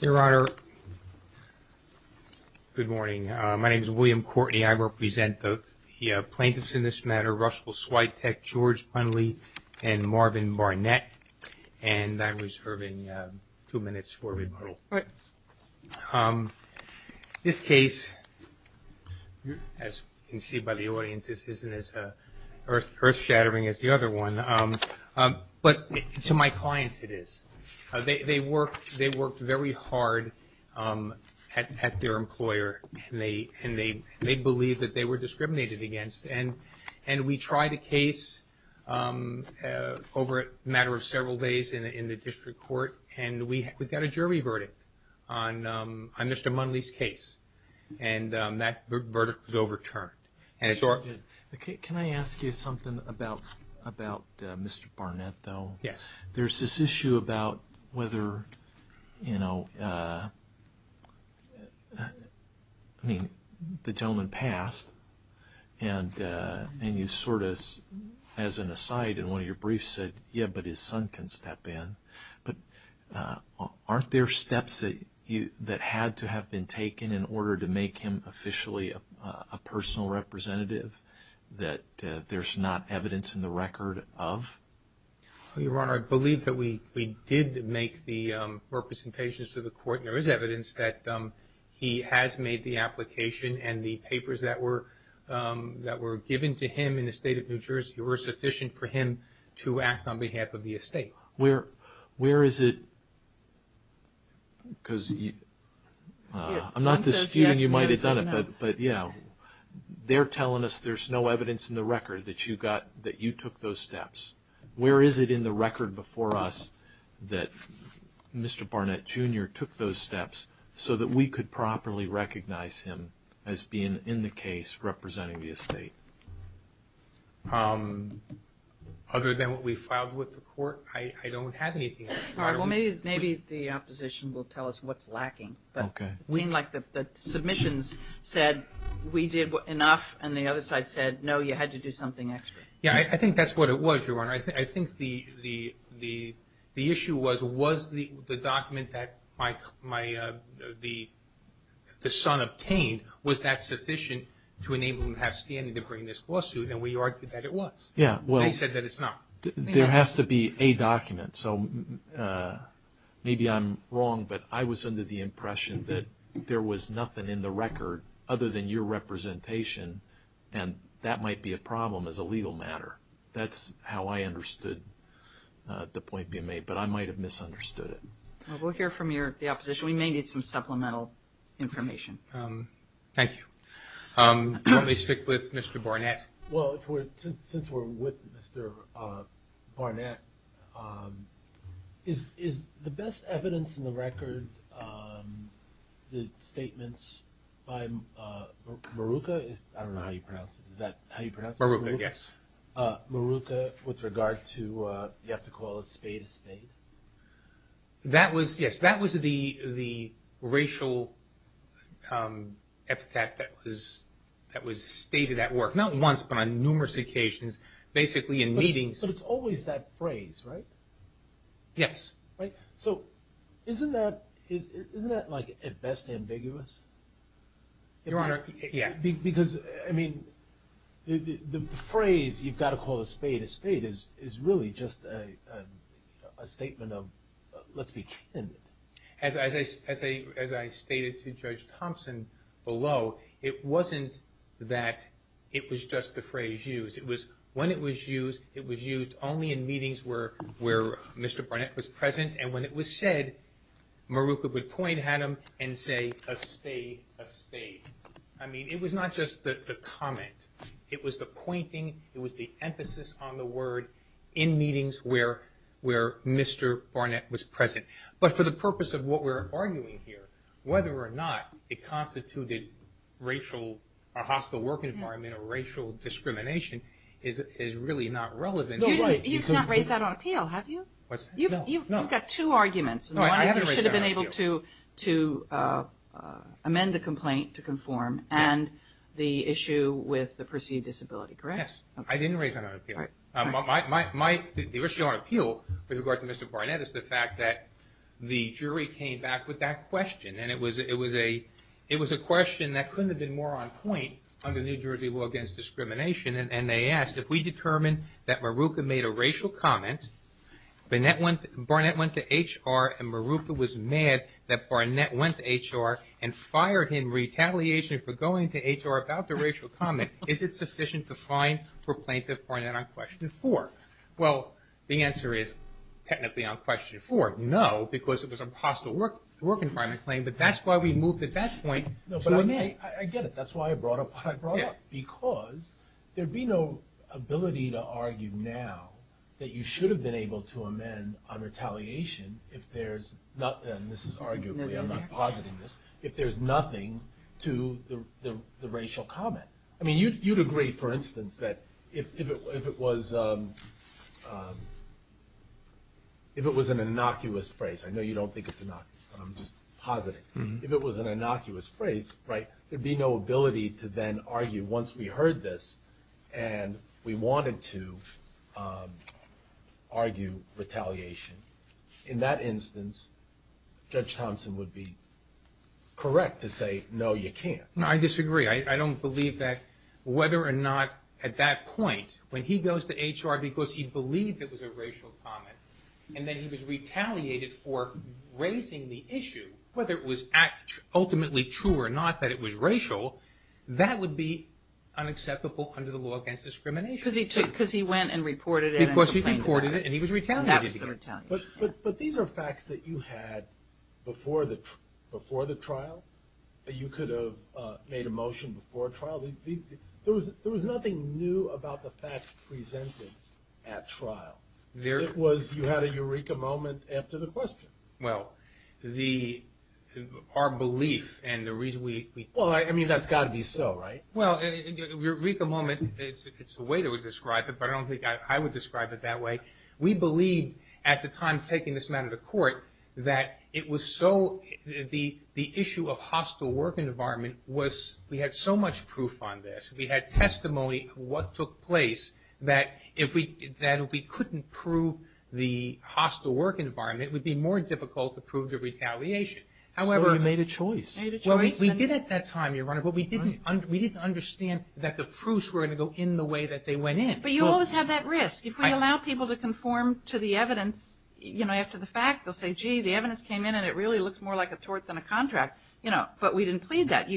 Your Honor, good morning. My name is William Courtney. I represent the plaintiffs in this matter, Russell Swiatek, George Bunley, and Marvin Barnett, and I'm reserving two minutes for rebuttal. All right. This case, as you can see by the audience, isn't as earth-shattering as the other one, but to my clients it is. They worked very hard at their employer, and they believed that they were discriminated against, and we tried a case over a matter of several days in the district court, and we got a jury verdict on Mr. Bunley's case, and that verdict was overturned. Can I ask you something about Mr. Barnett, though? Yes. There's this issue about whether, you know, I mean, the gentleman passed, and you sort of, as an aside, in one of your briefs said, yeah, but his son can step in, but aren't there steps that had to have been taken in order to make him officially a personal representative that there's not evidence in the record of? Your Honor, I believe that we did make the representations to the court, and there is evidence that he has made the application, and the papers that were given to him in the state of New Jersey were sufficient for him to act on behalf of the estate. Where is it, because I'm not disputing you might have done it, but yeah, they're telling us there's no evidence in the record that you took those steps. Where is it in the record before us that Mr. Barnett, Jr. took those steps so that we could properly recognize him as being in the case representing the estate? Other than what we filed with the court, I don't have anything. All right, well, maybe the opposition will tell us what's lacking, but it seemed like the submissions said we did enough, and the other side said, no, you had to do something extra. Yeah, I think that's what it was, Your Honor. I think the issue was, was the document that my, the son obtained, was that sufficient to enable him to have standing to bring this lawsuit, and we argued that it was. Yeah, well. They said that it's not. There has to be a document, so maybe I'm wrong, but I was under the impression that there was nothing in the record other than your representation, and that might be a problem as a legal matter. That's how I understood the point being made, but I might have misunderstood it. Well, we'll hear from your, the opposition. We may need some supplemental information. Thank you. Let me stick with Mr. Barnett. Well, if we're, since we're with Mr. Barnett, is the best evidence in the record, the statements by Maruca, I don't know how you pronounce it, is that how you pronounce it? Maruca, yes. Maruca, with regard to, you have to call a spade a spade? That was, yes, that was the racial epithet that was stated at work, not once, but on numerous occasions, basically in meetings. But it's always that phrase, right? Yes. Right? So isn't that, isn't that like at best ambiguous? Your Honor, yeah. Because, I mean, the phrase, you've got to call a spade a spade, is really just a statement of, let's be candid. As I stated to Judge Thompson below, it wasn't that it was just the phrase used. It was, when it was used, it was used only in meetings where Mr. Barnett was present, and when it was said, Maruca would point at him and say, a spade, a spade. I mean, it was not just the comment. It was the pointing, it was the emphasis on the word in meetings where Mr. Barnett was present. But for the purpose of what we're arguing here, whether or not it constituted racial, a hostile work environment or racial discrimination, is really not relevant. No, right. You've not raised that on appeal, have you? What's that? You've got two arguments. No, I haven't raised that on appeal. One is you should have been able to amend the complaint to conform, and the issue with the perceived disability, correct? Yes, I didn't raise that on appeal. All right. My, the issue on appeal with regard to Mr. Barnett is the fact that the jury came back with that question, and it was a question that couldn't have been more on point under New Jersey law against discrimination, and they asked, if we determine that Maruca made a racial comment, Barnett went to HR, and Maruca was mad that Barnett went to HR and fired him retaliation for going to HR about the racial comment, is it sufficient to fine for Plaintiff Barnett on Question 4? Well, the answer is technically on Question 4, no, because it was a hostile work environment claim, but that's why we moved at that point to amend. No, but I get it. That's why I brought up what I brought up, because there'd be no ability to argue now that you should have been able to amend on retaliation if there's, and this is arguably, I'm not positing this, if there's nothing to the racial comment. I mean, you'd agree, for instance, that if it was an innocuous phrase, I know you don't think it's innocuous, but I'm just positing, if it was an innocuous phrase, there'd be no ability to then argue once we heard this and we wanted to argue retaliation. In that instance, Judge Thompson would be correct to say, no, you can't. No, I disagree. I don't believe that whether or not at that point, when he goes to HR because he believed it was a racial comment, and then he was retaliated for raising the issue, whether it was ultimately true or not that it was racial, that would be unacceptable under the law against discrimination. Because he went and reported it. Because he reported it, and he was retaliated against. But these are facts that you had before the trial. You could have made a motion before trial. There was nothing new about the facts presented at trial. You had a eureka moment after the question. Well, our belief and the reason we... Well, I mean, that's got to be so, right? Well, eureka moment, it's the way that we describe it, but I don't think I would describe it that way. We believed, at the time taking this matter to court, that it was so...the issue of hostile work environment was...we had so much proof on this. We had testimony of what took place that if we couldn't prove the hostile work environment, it would be more difficult to prove the retaliation. However... So you made a choice. Well, we did at that time, Your Honor, but we didn't understand that the proofs were going to go in the way that they went in. But you always have that risk. If we allow people to conform to the evidence, you know, after the fact, they'll say, gee, the evidence came in and it really looks more like a tort than a contract. You know, but we didn't plead that.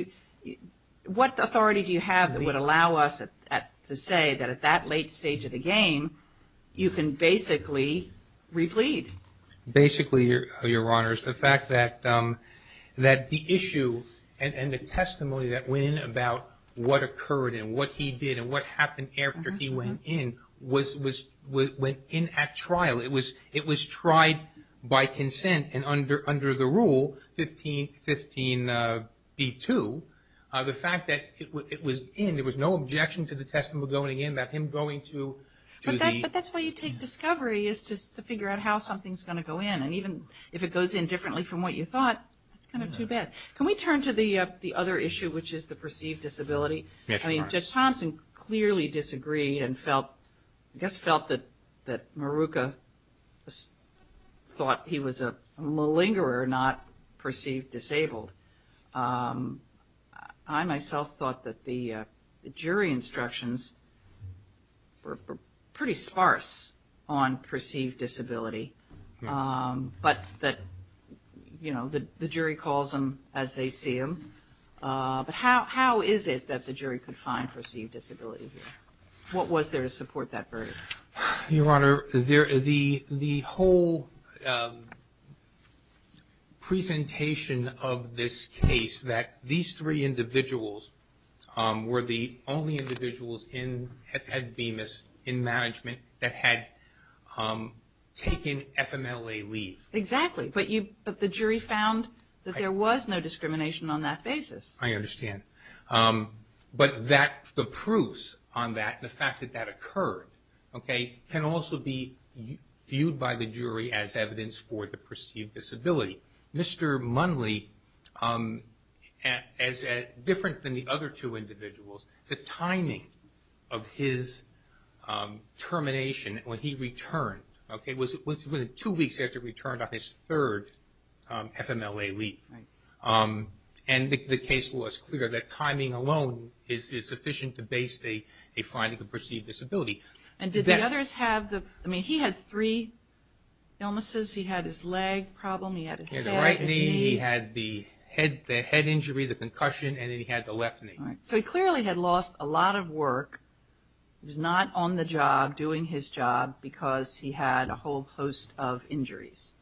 What authority do you have that would allow us to say that at that late stage of the game, you can basically replead? Basically, Your Honor, it's the fact that the issue and the testimony that went in about what occurred and what he did and what happened after he went in was...went in at trial. It was tried by consent and under the rule 15b-2. The fact that it was in, there was no objection to the testimony going in, that him going to... But that's why you take discovery, is just to figure out how something's going to go in. And even if it goes in differently from what you thought, that's kind of too bad. Can we turn to the other issue, which is the perceived disability? Yes, Your Honor. I mean, Judge Thompson clearly disagreed and felt, I guess felt that Maruca thought he was a malingerer, not perceived disabled. I myself thought that the jury instructions were pretty sparse on perceived disability. But that, you know, the jury calls him as they see him. But how is it that the jury could find perceived disability here? What was there to support that verdict? Your Honor, the whole presentation of this case, that these three individuals were the only individuals in...had Bemis in management that had taken FMLA leave. Exactly. But the jury found that there was no discrimination on that basis. I understand. But that...the proofs on that, the fact that that occurred, okay, can also be viewed by the jury as evidence for the perceived disability. Mr. Munley, as different than the other two individuals, the timing of his termination, when he returned, okay, was within two weeks after he returned on his third FMLA leave. Right. And the case law is clear that timing alone is sufficient to base a finding of perceived And did the others have the...I mean, he had three illnesses. He had his leg problem, he had a head... So he clearly had lost a lot of work. He was not on the job doing his job because he had a whole host of injuries.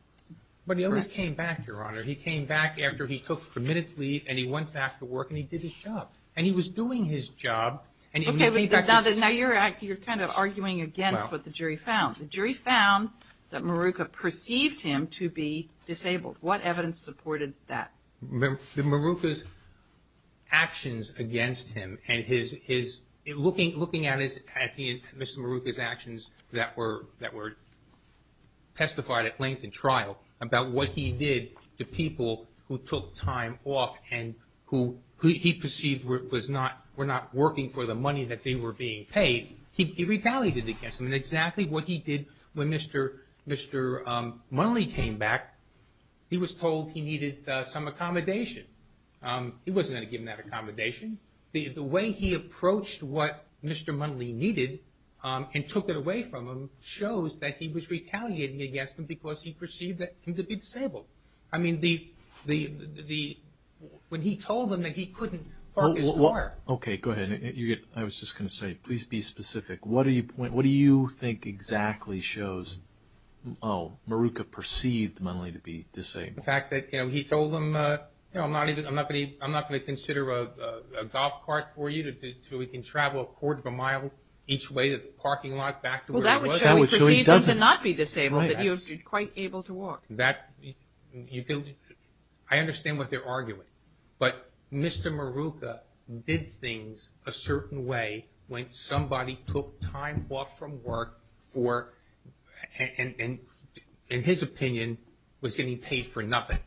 But he always came back, Your Honor. He came back after he took permitted leave and he went back to work and he did his job. And he was doing his job and he came back... Okay, but now you're kind of arguing against what the jury found. The jury found that Maruca perceived him to be disabled. What evidence supported that? Maruca's actions against him and looking at Mr. Maruca's actions that were testified at length in trial about what he did to people who took time off and who he perceived were not working for the money that they were being paid, he retaliated against them. And exactly what he did when Mr. Munley came back, he was told he needed some accommodation. He wasn't going to give him that accommodation. The way he approached what Mr. Munley needed and took it away from him shows that he was retaliating against him because he perceived him to be disabled. I mean, when he told him that he couldn't park his car... Okay, go ahead. I was just going to say, please be specific. What do you point...what do you think exactly shows, oh, Maruca perceived Munley to be disabled? The fact that, you know, he told him, you know, I'm not going to consider a golf cart for you until we can travel a quarter of a mile each way to the parking lot back to where he was. Well, that would show he perceived him to not be disabled, that he was quite able to walk. That...I understand what they're arguing. But Mr. Maruca did things a certain way when somebody took time off from work for...in his opinion, was getting paid for nothing.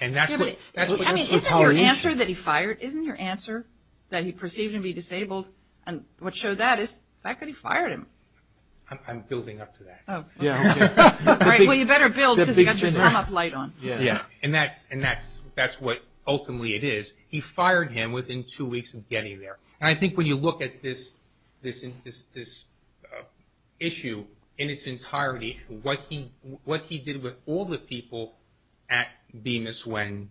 And that's what... I mean, isn't your answer that he fired...isn't your answer that he perceived him to be disabled...and what showed that is the fact that he fired him. I'm building up to that. Oh, okay. Well, you better build because you got your sum-up light on. Yeah, and that's what ultimately it is. He fired him within two weeks of getting there. And I think when you look at this issue in its entirety, what he did with all the people at Bemis when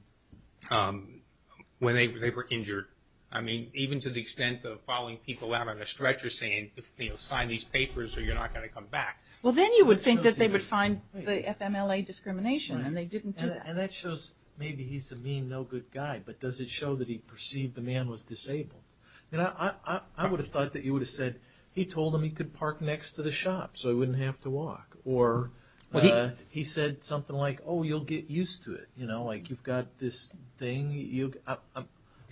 they were injured, I mean, even to the extent of following people out on a stretcher saying, you know, sign these papers or you're not going to come back. Well, then you would think that they would find the FMLA discrimination and they didn't do that. And that shows maybe he's a mean, no good guy. But does it show that he perceived the man was disabled? I mean, I would have thought that you would have said, he told him he could park next to the shop so he wouldn't have to walk. Or he said something like, oh, you'll get used to it, you know, like you've got this thing.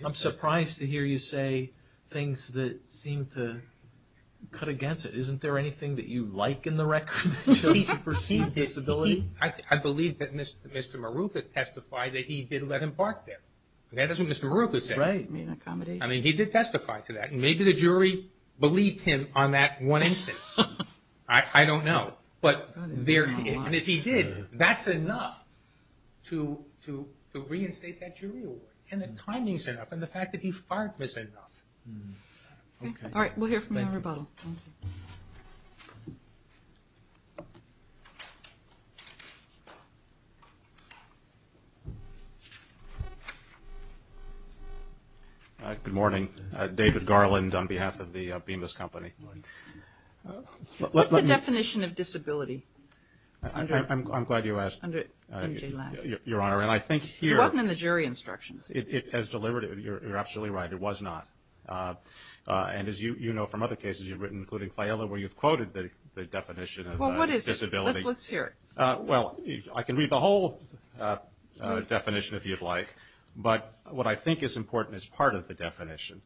I'm surprised to hear you say things that seem to cut against it. Isn't there anything that you like in the record that shows he perceived disability? I believe that Mr. Maruca testified that he did let him park there. That is what Mr. Maruca said. I mean, he did testify to that. And maybe the jury believed him on that one instance. I don't know. But there he is. And if he did, that's enough to reinstate that jury award. And the timing's enough. And the fact that he farted was enough. All right. We'll hear from you on rebuttal. Good morning. David Garland on behalf of the Bemis Company. What's the definition of disability? I'm glad you asked, Your Honor. Because it wasn't in the jury instructions. It has delivered. You're absolutely right. It was not. And as you know from other cases you've written, including Fayella, where you've quoted the definition of disability. Well, what is it? Let's hear it. Well, I can read the whole definition if you'd like. But what I think is important is part of the definition.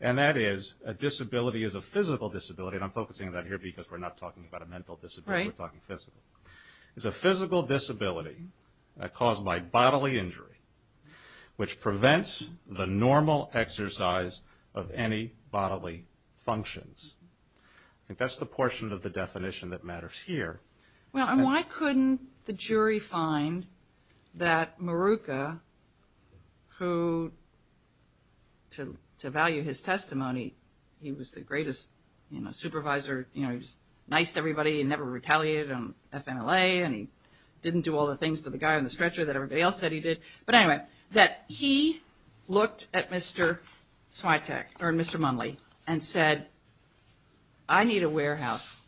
And that is a disability is a physical disability. And I'm focusing on that here because we're not talking about a mental disability. We're talking physical. It's a physical disability caused by bodily injury which prevents the normal exercise of any bodily functions. I think that's the portion of the definition that matters here. Well, and why couldn't the jury find that Maruca, who, to value his testimony, he was the greatest supervisor, you know, he just niced everybody and never retaliated on FMLA and he didn't do all the things to the guy on the stretcher that everybody else said he did. But anyway, that he looked at Mr. Swiatek or Mr. Munley and said, I need a warehouse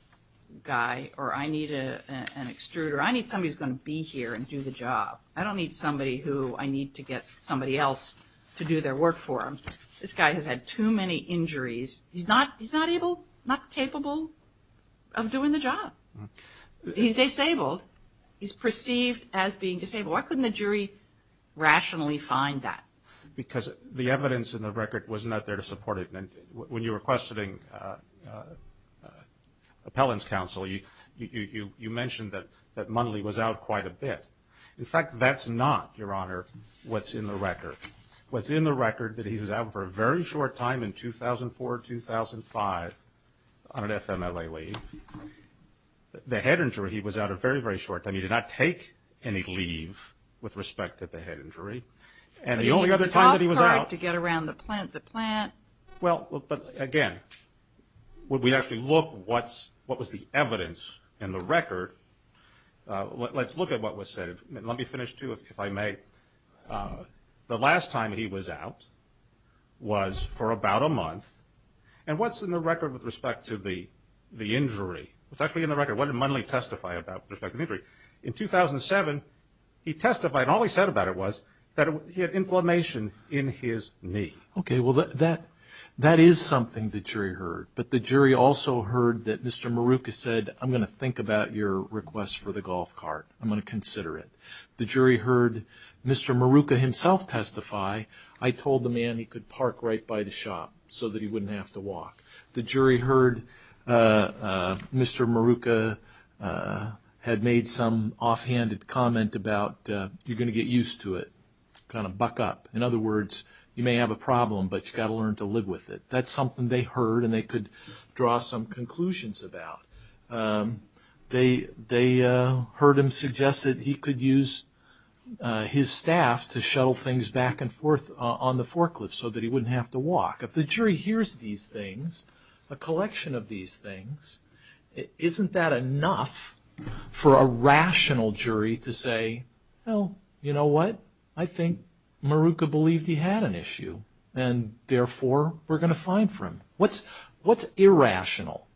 guy or I need an extruder. I need somebody who's going to be here and do the job. I don't need somebody who I need to get somebody else to do their work for them. This guy has had too many injuries. He's not able, not capable of doing the job. He's disabled. He's perceived as being disabled. Why couldn't the jury rationally find that? Because the evidence in the record was not there to support it. When you were questioning appellant's counsel, you mentioned that Munley was out quite a bit. In fact, that's not, Your Honor, what's in the record. What's in the record is that he was out for a very short time in 2004, 2005 on an FMLA leave. The head injury, he was out a very, very short time. He did not take any leave with respect to the head injury. And the only other time that he was out. He did the top part to get around the plant. Well, but again, when we actually look what was the evidence in the record, let's look at what was said. Let me finish too if I may. The last time he was out was for about a month. And what's in the record with respect to the injury? What's actually in the record? What In 2007, he testified. All he said about it was that he had inflammation in his knee. Okay. Well, that is something the jury heard. But the jury also heard that Mr. Maruca said, I'm going to think about your request for the golf cart. I'm going to consider it. The jury heard Mr. Maruca himself testify. I told the man he could park right by the shop so that he wouldn't have to walk. The jury heard Mr. Maruca had made some offhanded comment about you're going to get used to it. Kind of buck up. In other words, you may have a problem, but you've got to learn to live with it. That's something they heard and they could draw some conclusions about. They heard him suggest that he could use his staff to shuttle things back and forth on the forklift so that he wouldn't have to walk. If the jury hears these things, a collection of these things, isn't that enough for a rational jury to say, well, you know what? I think Maruca believed he had an issue. And therefore, we're going to fine for him. What's irrational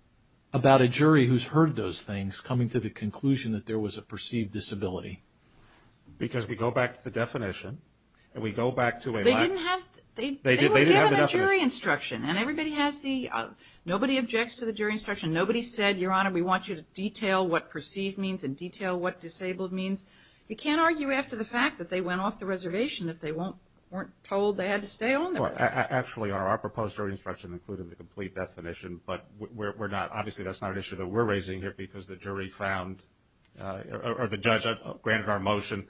about a jury who's heard those things coming to the conclusion that there was a perceived disability? Because we go back to the definition and we go back to a... They didn't have... They didn't have the definition. They were given a jury instruction and everybody has the... Nobody objects to the jury instruction. Nobody said, Your Honor, we want you to detail what perceived means and detail what disabled means. You can't argue after the fact that they went off the reservation if they weren't told they had to stay on there. Actually, Your Honor, our proposed jury instruction included the complete definition, but obviously that's not an issue that we're raising here because the jury found, or the judge granted our motion,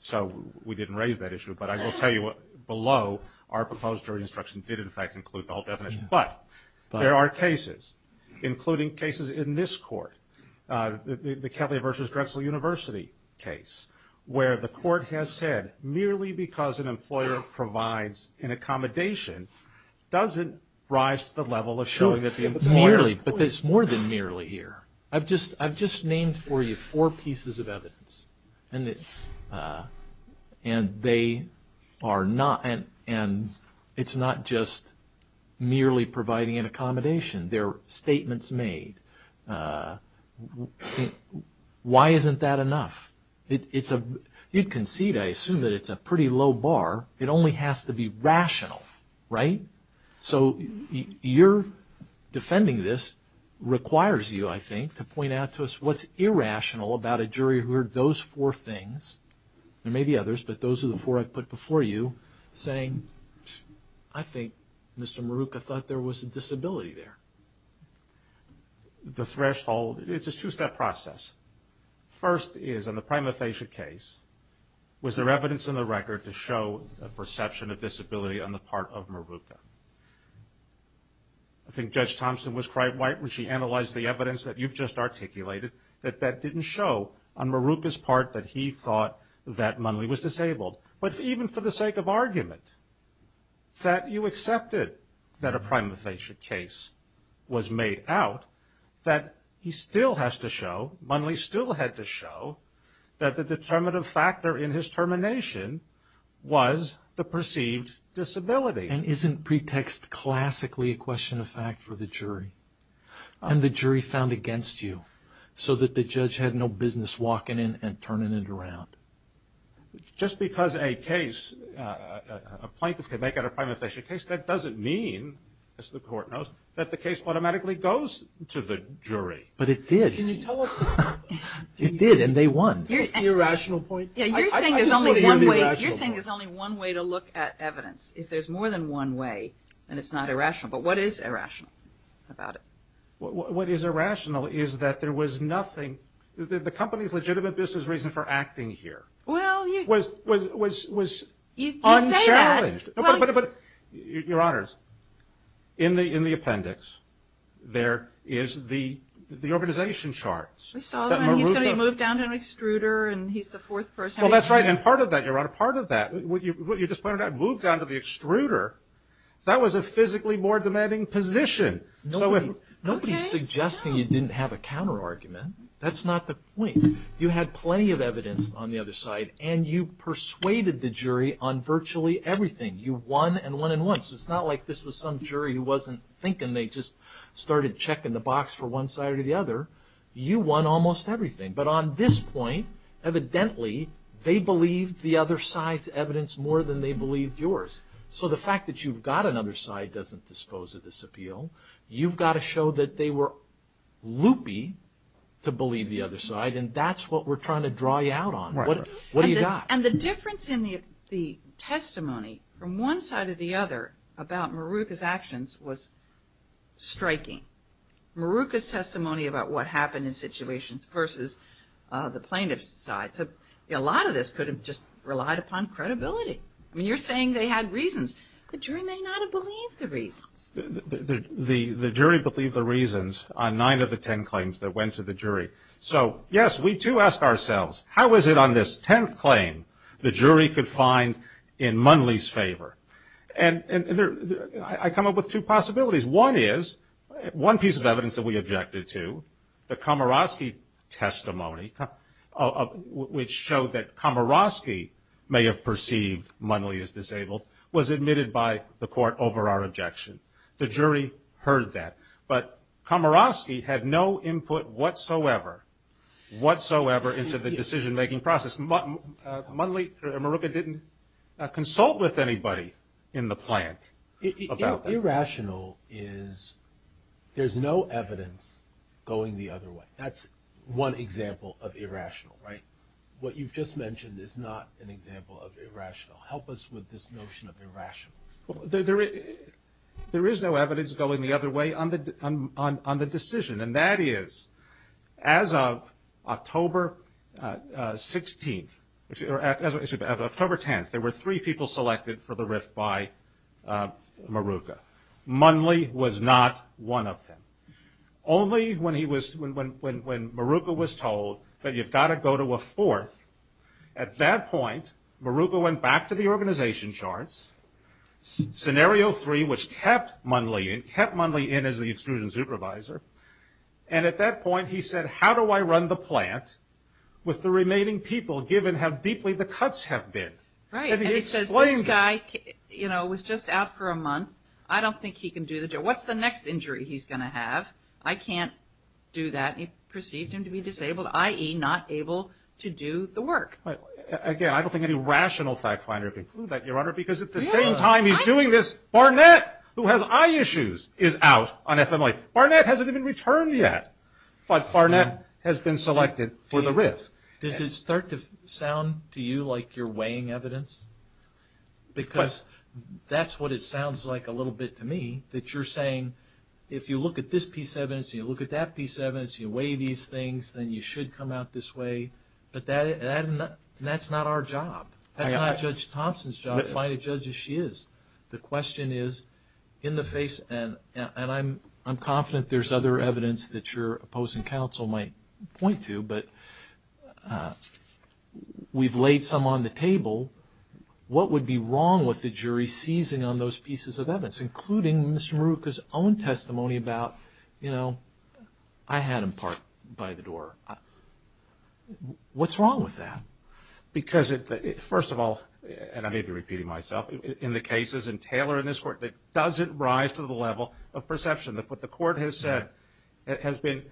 so we didn't raise that issue. But I will tell you below, our proposed jury instruction did, in fact, include the whole definition. But there are cases, including cases in this court, the Kelly versus Drexel University case, where the court has said merely because an employer provides an accommodation doesn't rise to the level of showing that the employer... Merely, but there's more than merely here. I've just named for you four pieces of evidence, and they are not... And it's not just merely providing an accommodation. There are statements made. Why isn't that enough? It's a... You concede, I assume, that it's a pretty low bar. It only has to be rational, right? So your defending this requires you, I think, to point out to us what's irrational about a jury who heard those four things, there may be others, but those are the four I put before you, saying, I think Mr. Maruca thought there was a disability there. The threshold... It's a two-step process. First is, on the prima facie case, was there evidence in the record to show a perception of disability on the part of Maruca? I think Judge Thompson was quite right when she analyzed the evidence that you've just articulated, that that didn't show on Maruca's part that he thought that Munley was disabled. But even for the sake of argument, that you accepted that a prima facie case was made out, that he still has to show, Munley still had to show, that the determinative factor in his termination was the perceived disability. And isn't pretext classically a question of fact for the jury? And the jury found against you, so that the judge had no business walking in and turning it around. Just because a case, a plaintiff can make out a prima facie case, that doesn't mean, as the court knows, that the case automatically goes to the jury. But it did. Can you tell us... It did, and they won. That's the irrational point. You're saying there's only one way to look at evidence. If there's more than one way, then it's not irrational. But what is irrational about it? What is irrational is that there was nothing... The company's legitimate business reason for acting here was unchallenged. Your Honors, in the appendix, there is the organization charts. We saw them, and he's going to be moved down to an extruder, and he's the fourth person... Well, that's right. And part of that, Your Honor, part of that, what you just pointed out, moved down to the extruder, that was a physically more demanding position. Nobody's suggesting you didn't have a counter-argument. That's not the point. You had plenty of evidence on the other side, and you persuaded the jury on virtually everything. You won, and won, and won. So it's not like this was some jury who wasn't thinking. They just started checking the box for one side or the other. You won almost everything. But on this point, evidently, they believed the other side's evidence more than they believed yours. So the fact that you've got another side doesn't dispose of this appeal. You've got to show that they were loopy to believe the other side, and that's what we're trying to draw you out on. What do you got? And the difference in the testimony from one side or the other about Maruka's actions was striking. Maruka's testimony about what happened in situations versus the plaintiff's side. So a lot of this could have just relied upon credibility. I mean, you're saying they had reasons. The jury may not have believed the reasons. The jury believed the reasons on nine of the ten claims that went to the jury. So, yes, we too ask ourselves, how is it on this tenth claim the jury could find in Munley's favor? And I come up with two possibilities. One is, one piece of evidence that we objected to, the Komoroski testimony, which showed that Komoroski may have perceived Munley as disabled, was admitted by the court over our objection. The jury heard that. But Komoroski had no input whatsoever, whatsoever, into the decision-making process. Munley, Maruka didn't consult with anybody in the plant about that. Irrational is there's no evidence going the other way. That's one example of irrational, right? What you've just mentioned is not an example of irrational. Help us with this notion of irrational. There is no evidence going the other way on the decision. And that is, as of October 16th, or excuse me, October 10th, there were three people selected for the rift by Maruka. Munley was not one of them. Only when he was, when Maruka was told that you've got to go to a fourth, at that point Maruka went back to the organization charts, scenario three, which kept Munley in, kept Munley in as the extrusion supervisor. And at that point he said, how do I run the plant with the remaining people, given how deeply the cuts have been? And he explained that. And he says, this guy, you know, was just out for a month. I don't think he can do the job. What's the next injury he's going to have? I can't do that. He perceived him to be disabled, i.e., not able to do the work. Again, I don't think any rational fact finder can conclude that, Your Honor, because at the same time he's doing this, Barnett, who has eye issues, is out on FMLA. Barnett hasn't even returned yet. But Barnett has been selected for the rift. Does it start to sound to you like you're weighing evidence? Because that's what it sounds like a little bit to me, that you're saying, if you look at this piece of evidence, you look at that piece of evidence, you weigh these things, then you should come out this way. But that's not our job. That's not Judge Thompson's job, to find a judge as she is. The question is, in the face, and I'm confident there's other evidence that your opposing counsel might point to, but we've laid some on the table. What would be wrong with the jury seizing on those pieces of evidence, including Mr. Maruca's own testimony about, you know, I had him parked by the door. What's wrong with that? Because, first of all, and I may be repeating myself, in the cases in Taylor and this court, it doesn't rise to the level of perception. What the court has said has been,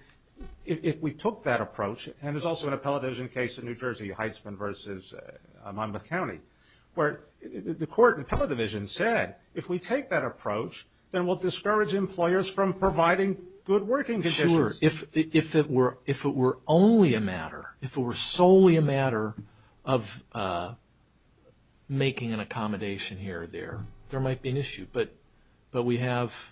if we took that approach, and there's also an appellate division case in New Jersey, Heisman v. Monmouth County, where the court in the appellate division said, if we take that approach, then we'll discourage employers from providing good working conditions. Sure. If it were only a matter, if it were solely a matter of making an accommodation here or there, there might be an issue. But we have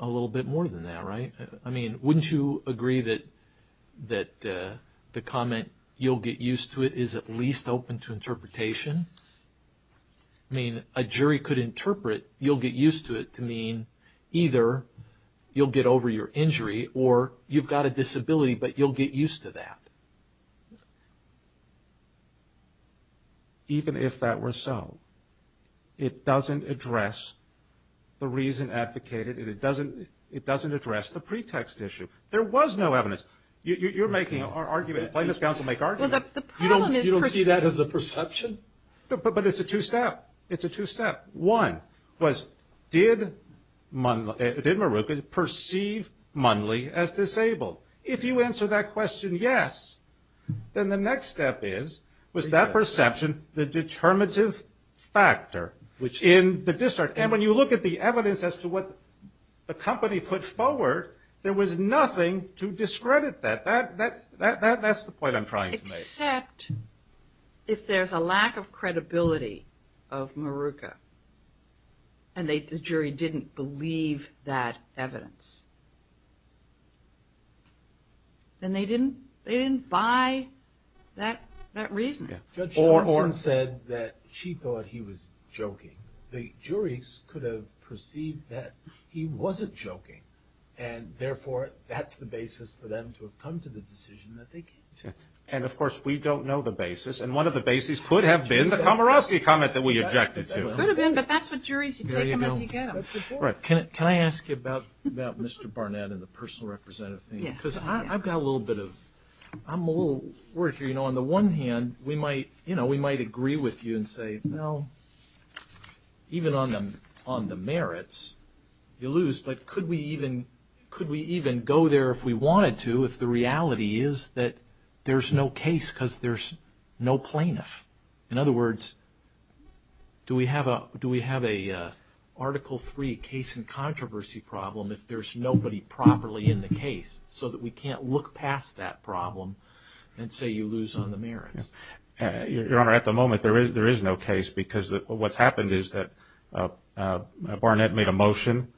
a little bit more than that, right? I mean, wouldn't you agree that the comment, you'll get used to it, is at least open to interpretation? I mean, a jury could interpret, you'll get used to it, to mean either you'll get over your injury or you've got a disability, but you'll get used to that. Even if that were so, it doesn't address the reason advocated, and it doesn't address the pretext issue. There was no evidence. You're making an argument. Plaintiffs' counsel make arguments. You don't see that as a perception? But it's a two-step. It's a two-step. One was, did Maruka perceive Munley as disabled? If you answer that question yes, then the next step is, was that perception the determinative factor in the district? And when you look at the evidence as to what the company put forward, there was nothing to discredit that. That's the point I'm trying to make. Except if there's a lack of credibility of Maruka and the jury didn't believe that evidence, then they didn't buy that reasoning. Judge Thompson said that she thought he was joking. The juries could have perceived that he wasn't joking, and, therefore, that's the basis for them to have come to the decision that they came to. And, of course, we don't know the basis, and one of the bases could have been the Komorosky comment that we objected to. It could have been, but that's what juries do. There you go. Can I ask you about Mr. Barnett and the personal representative thing? Yes. Because I've got a little bit of – I'm a little worried here. On the one hand, we might agree with you and say, well, even on the merits, you lose. But could we even go there if we wanted to if the reality is that there's no case because there's no plaintiff? In other words, do we have a Article III case in controversy problem if there's nobody properly in the case so that we can't look past that problem and say you lose on the merits? Your Honor, at the moment there is no case because what's happened is that Barnett made a motion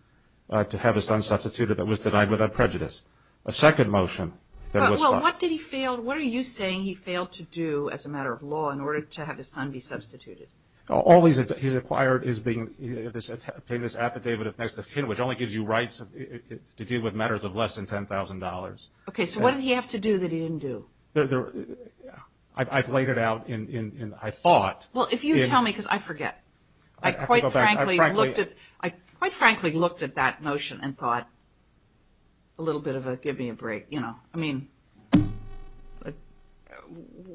to have his son substituted that was denied without prejudice. A second motion that was – Well, what did he fail – what are you saying he failed to do as a matter of law in order to have his son be substituted? All he's acquired is being – this affidavit of next of kin, which only gives you rights to deal with matters of less than $10,000. Okay. So what did he have to do that he didn't do? I've laid it out in – I thought – Well, if you tell me because I forget. I quite frankly looked at that motion and thought a little bit of a give me a break. I mean,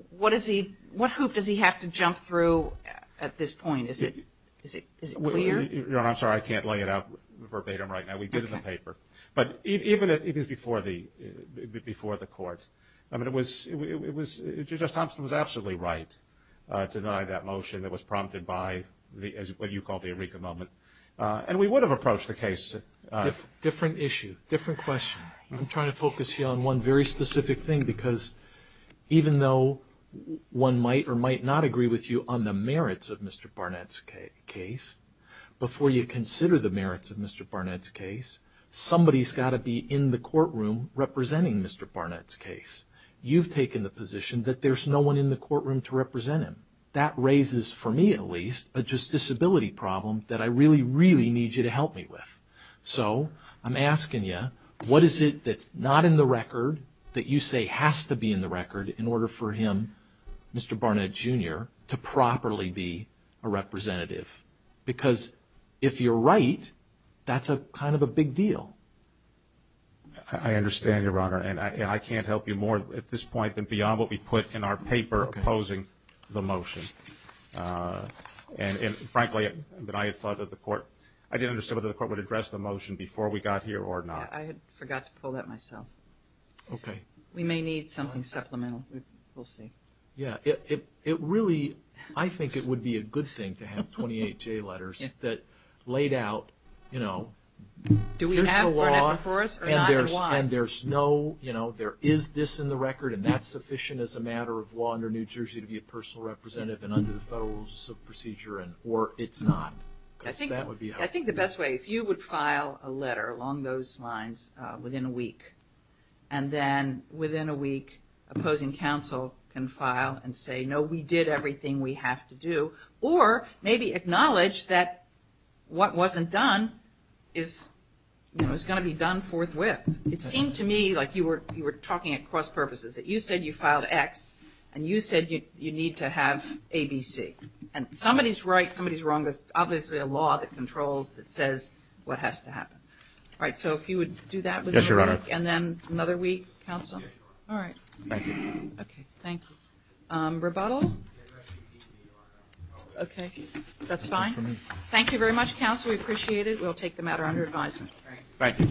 what is he – what hoop does he have to jump through at this point? Is it clear? Your Honor, I'm sorry. I can't lay it out verbatim right now. We did it in the paper. But even if it was before the court, I mean, it was – Judge Thompson was absolutely right to deny that motion that was prompted by what you call the Eureka moment. And we would have approached the case – Different issue, different question. I'm trying to focus you on one very specific thing because even though one might or might not agree with you on the merits of Mr. Barnett's case, before you consider the merits of Mr. Barnett's case, somebody's got to be in the courtroom representing Mr. Barnett's case. You've taken the position that there's no one in the courtroom to represent him. That raises, for me at least, a justiciability problem that I really, really need you to help me with. So I'm asking you, what is it that's not in the record that you say has to be in the record in order for him, Mr. Barnett Jr., to properly be a representative? Because if you're right, that's kind of a big deal. I understand, Your Honor, and I can't help you more at this point than beyond what we put in our paper opposing the motion. And frankly, I thought that the court – I didn't understand whether the court would address the motion before we got here or not. I forgot to pull that myself. Okay. We may need something supplemental. We'll see. Yeah. It really – I think it would be a good thing to have 28 J letters that laid out, you know, here's the law. Do we have Barnett before us or not, and why? And there's no, you know, there is this in the record, and that's sufficient as a matter of law under New Jersey to be a personal representative and under the Federal Rules of Procedure, or it's not. I think the best way, if you would file a letter along those lines within a week, and then within a week opposing counsel can file and say, no, we did everything we have to do, or maybe acknowledge that what wasn't done is, you know, is going to be done forthwith. It seemed to me like you were talking at cross purposes, that you said you filed X and you said you need to have ABC. And somebody's right, somebody's wrong. There's obviously a law that controls that says what has to happen. All right. So if you would do that within a week. Yes, Your Honor. And then another week, counsel. All right. Thank you. Okay. Thank you. Rebuttal? Okay. That's fine. Thank you very much, counsel. We appreciate it. We'll take the matter under advisement. Thank you.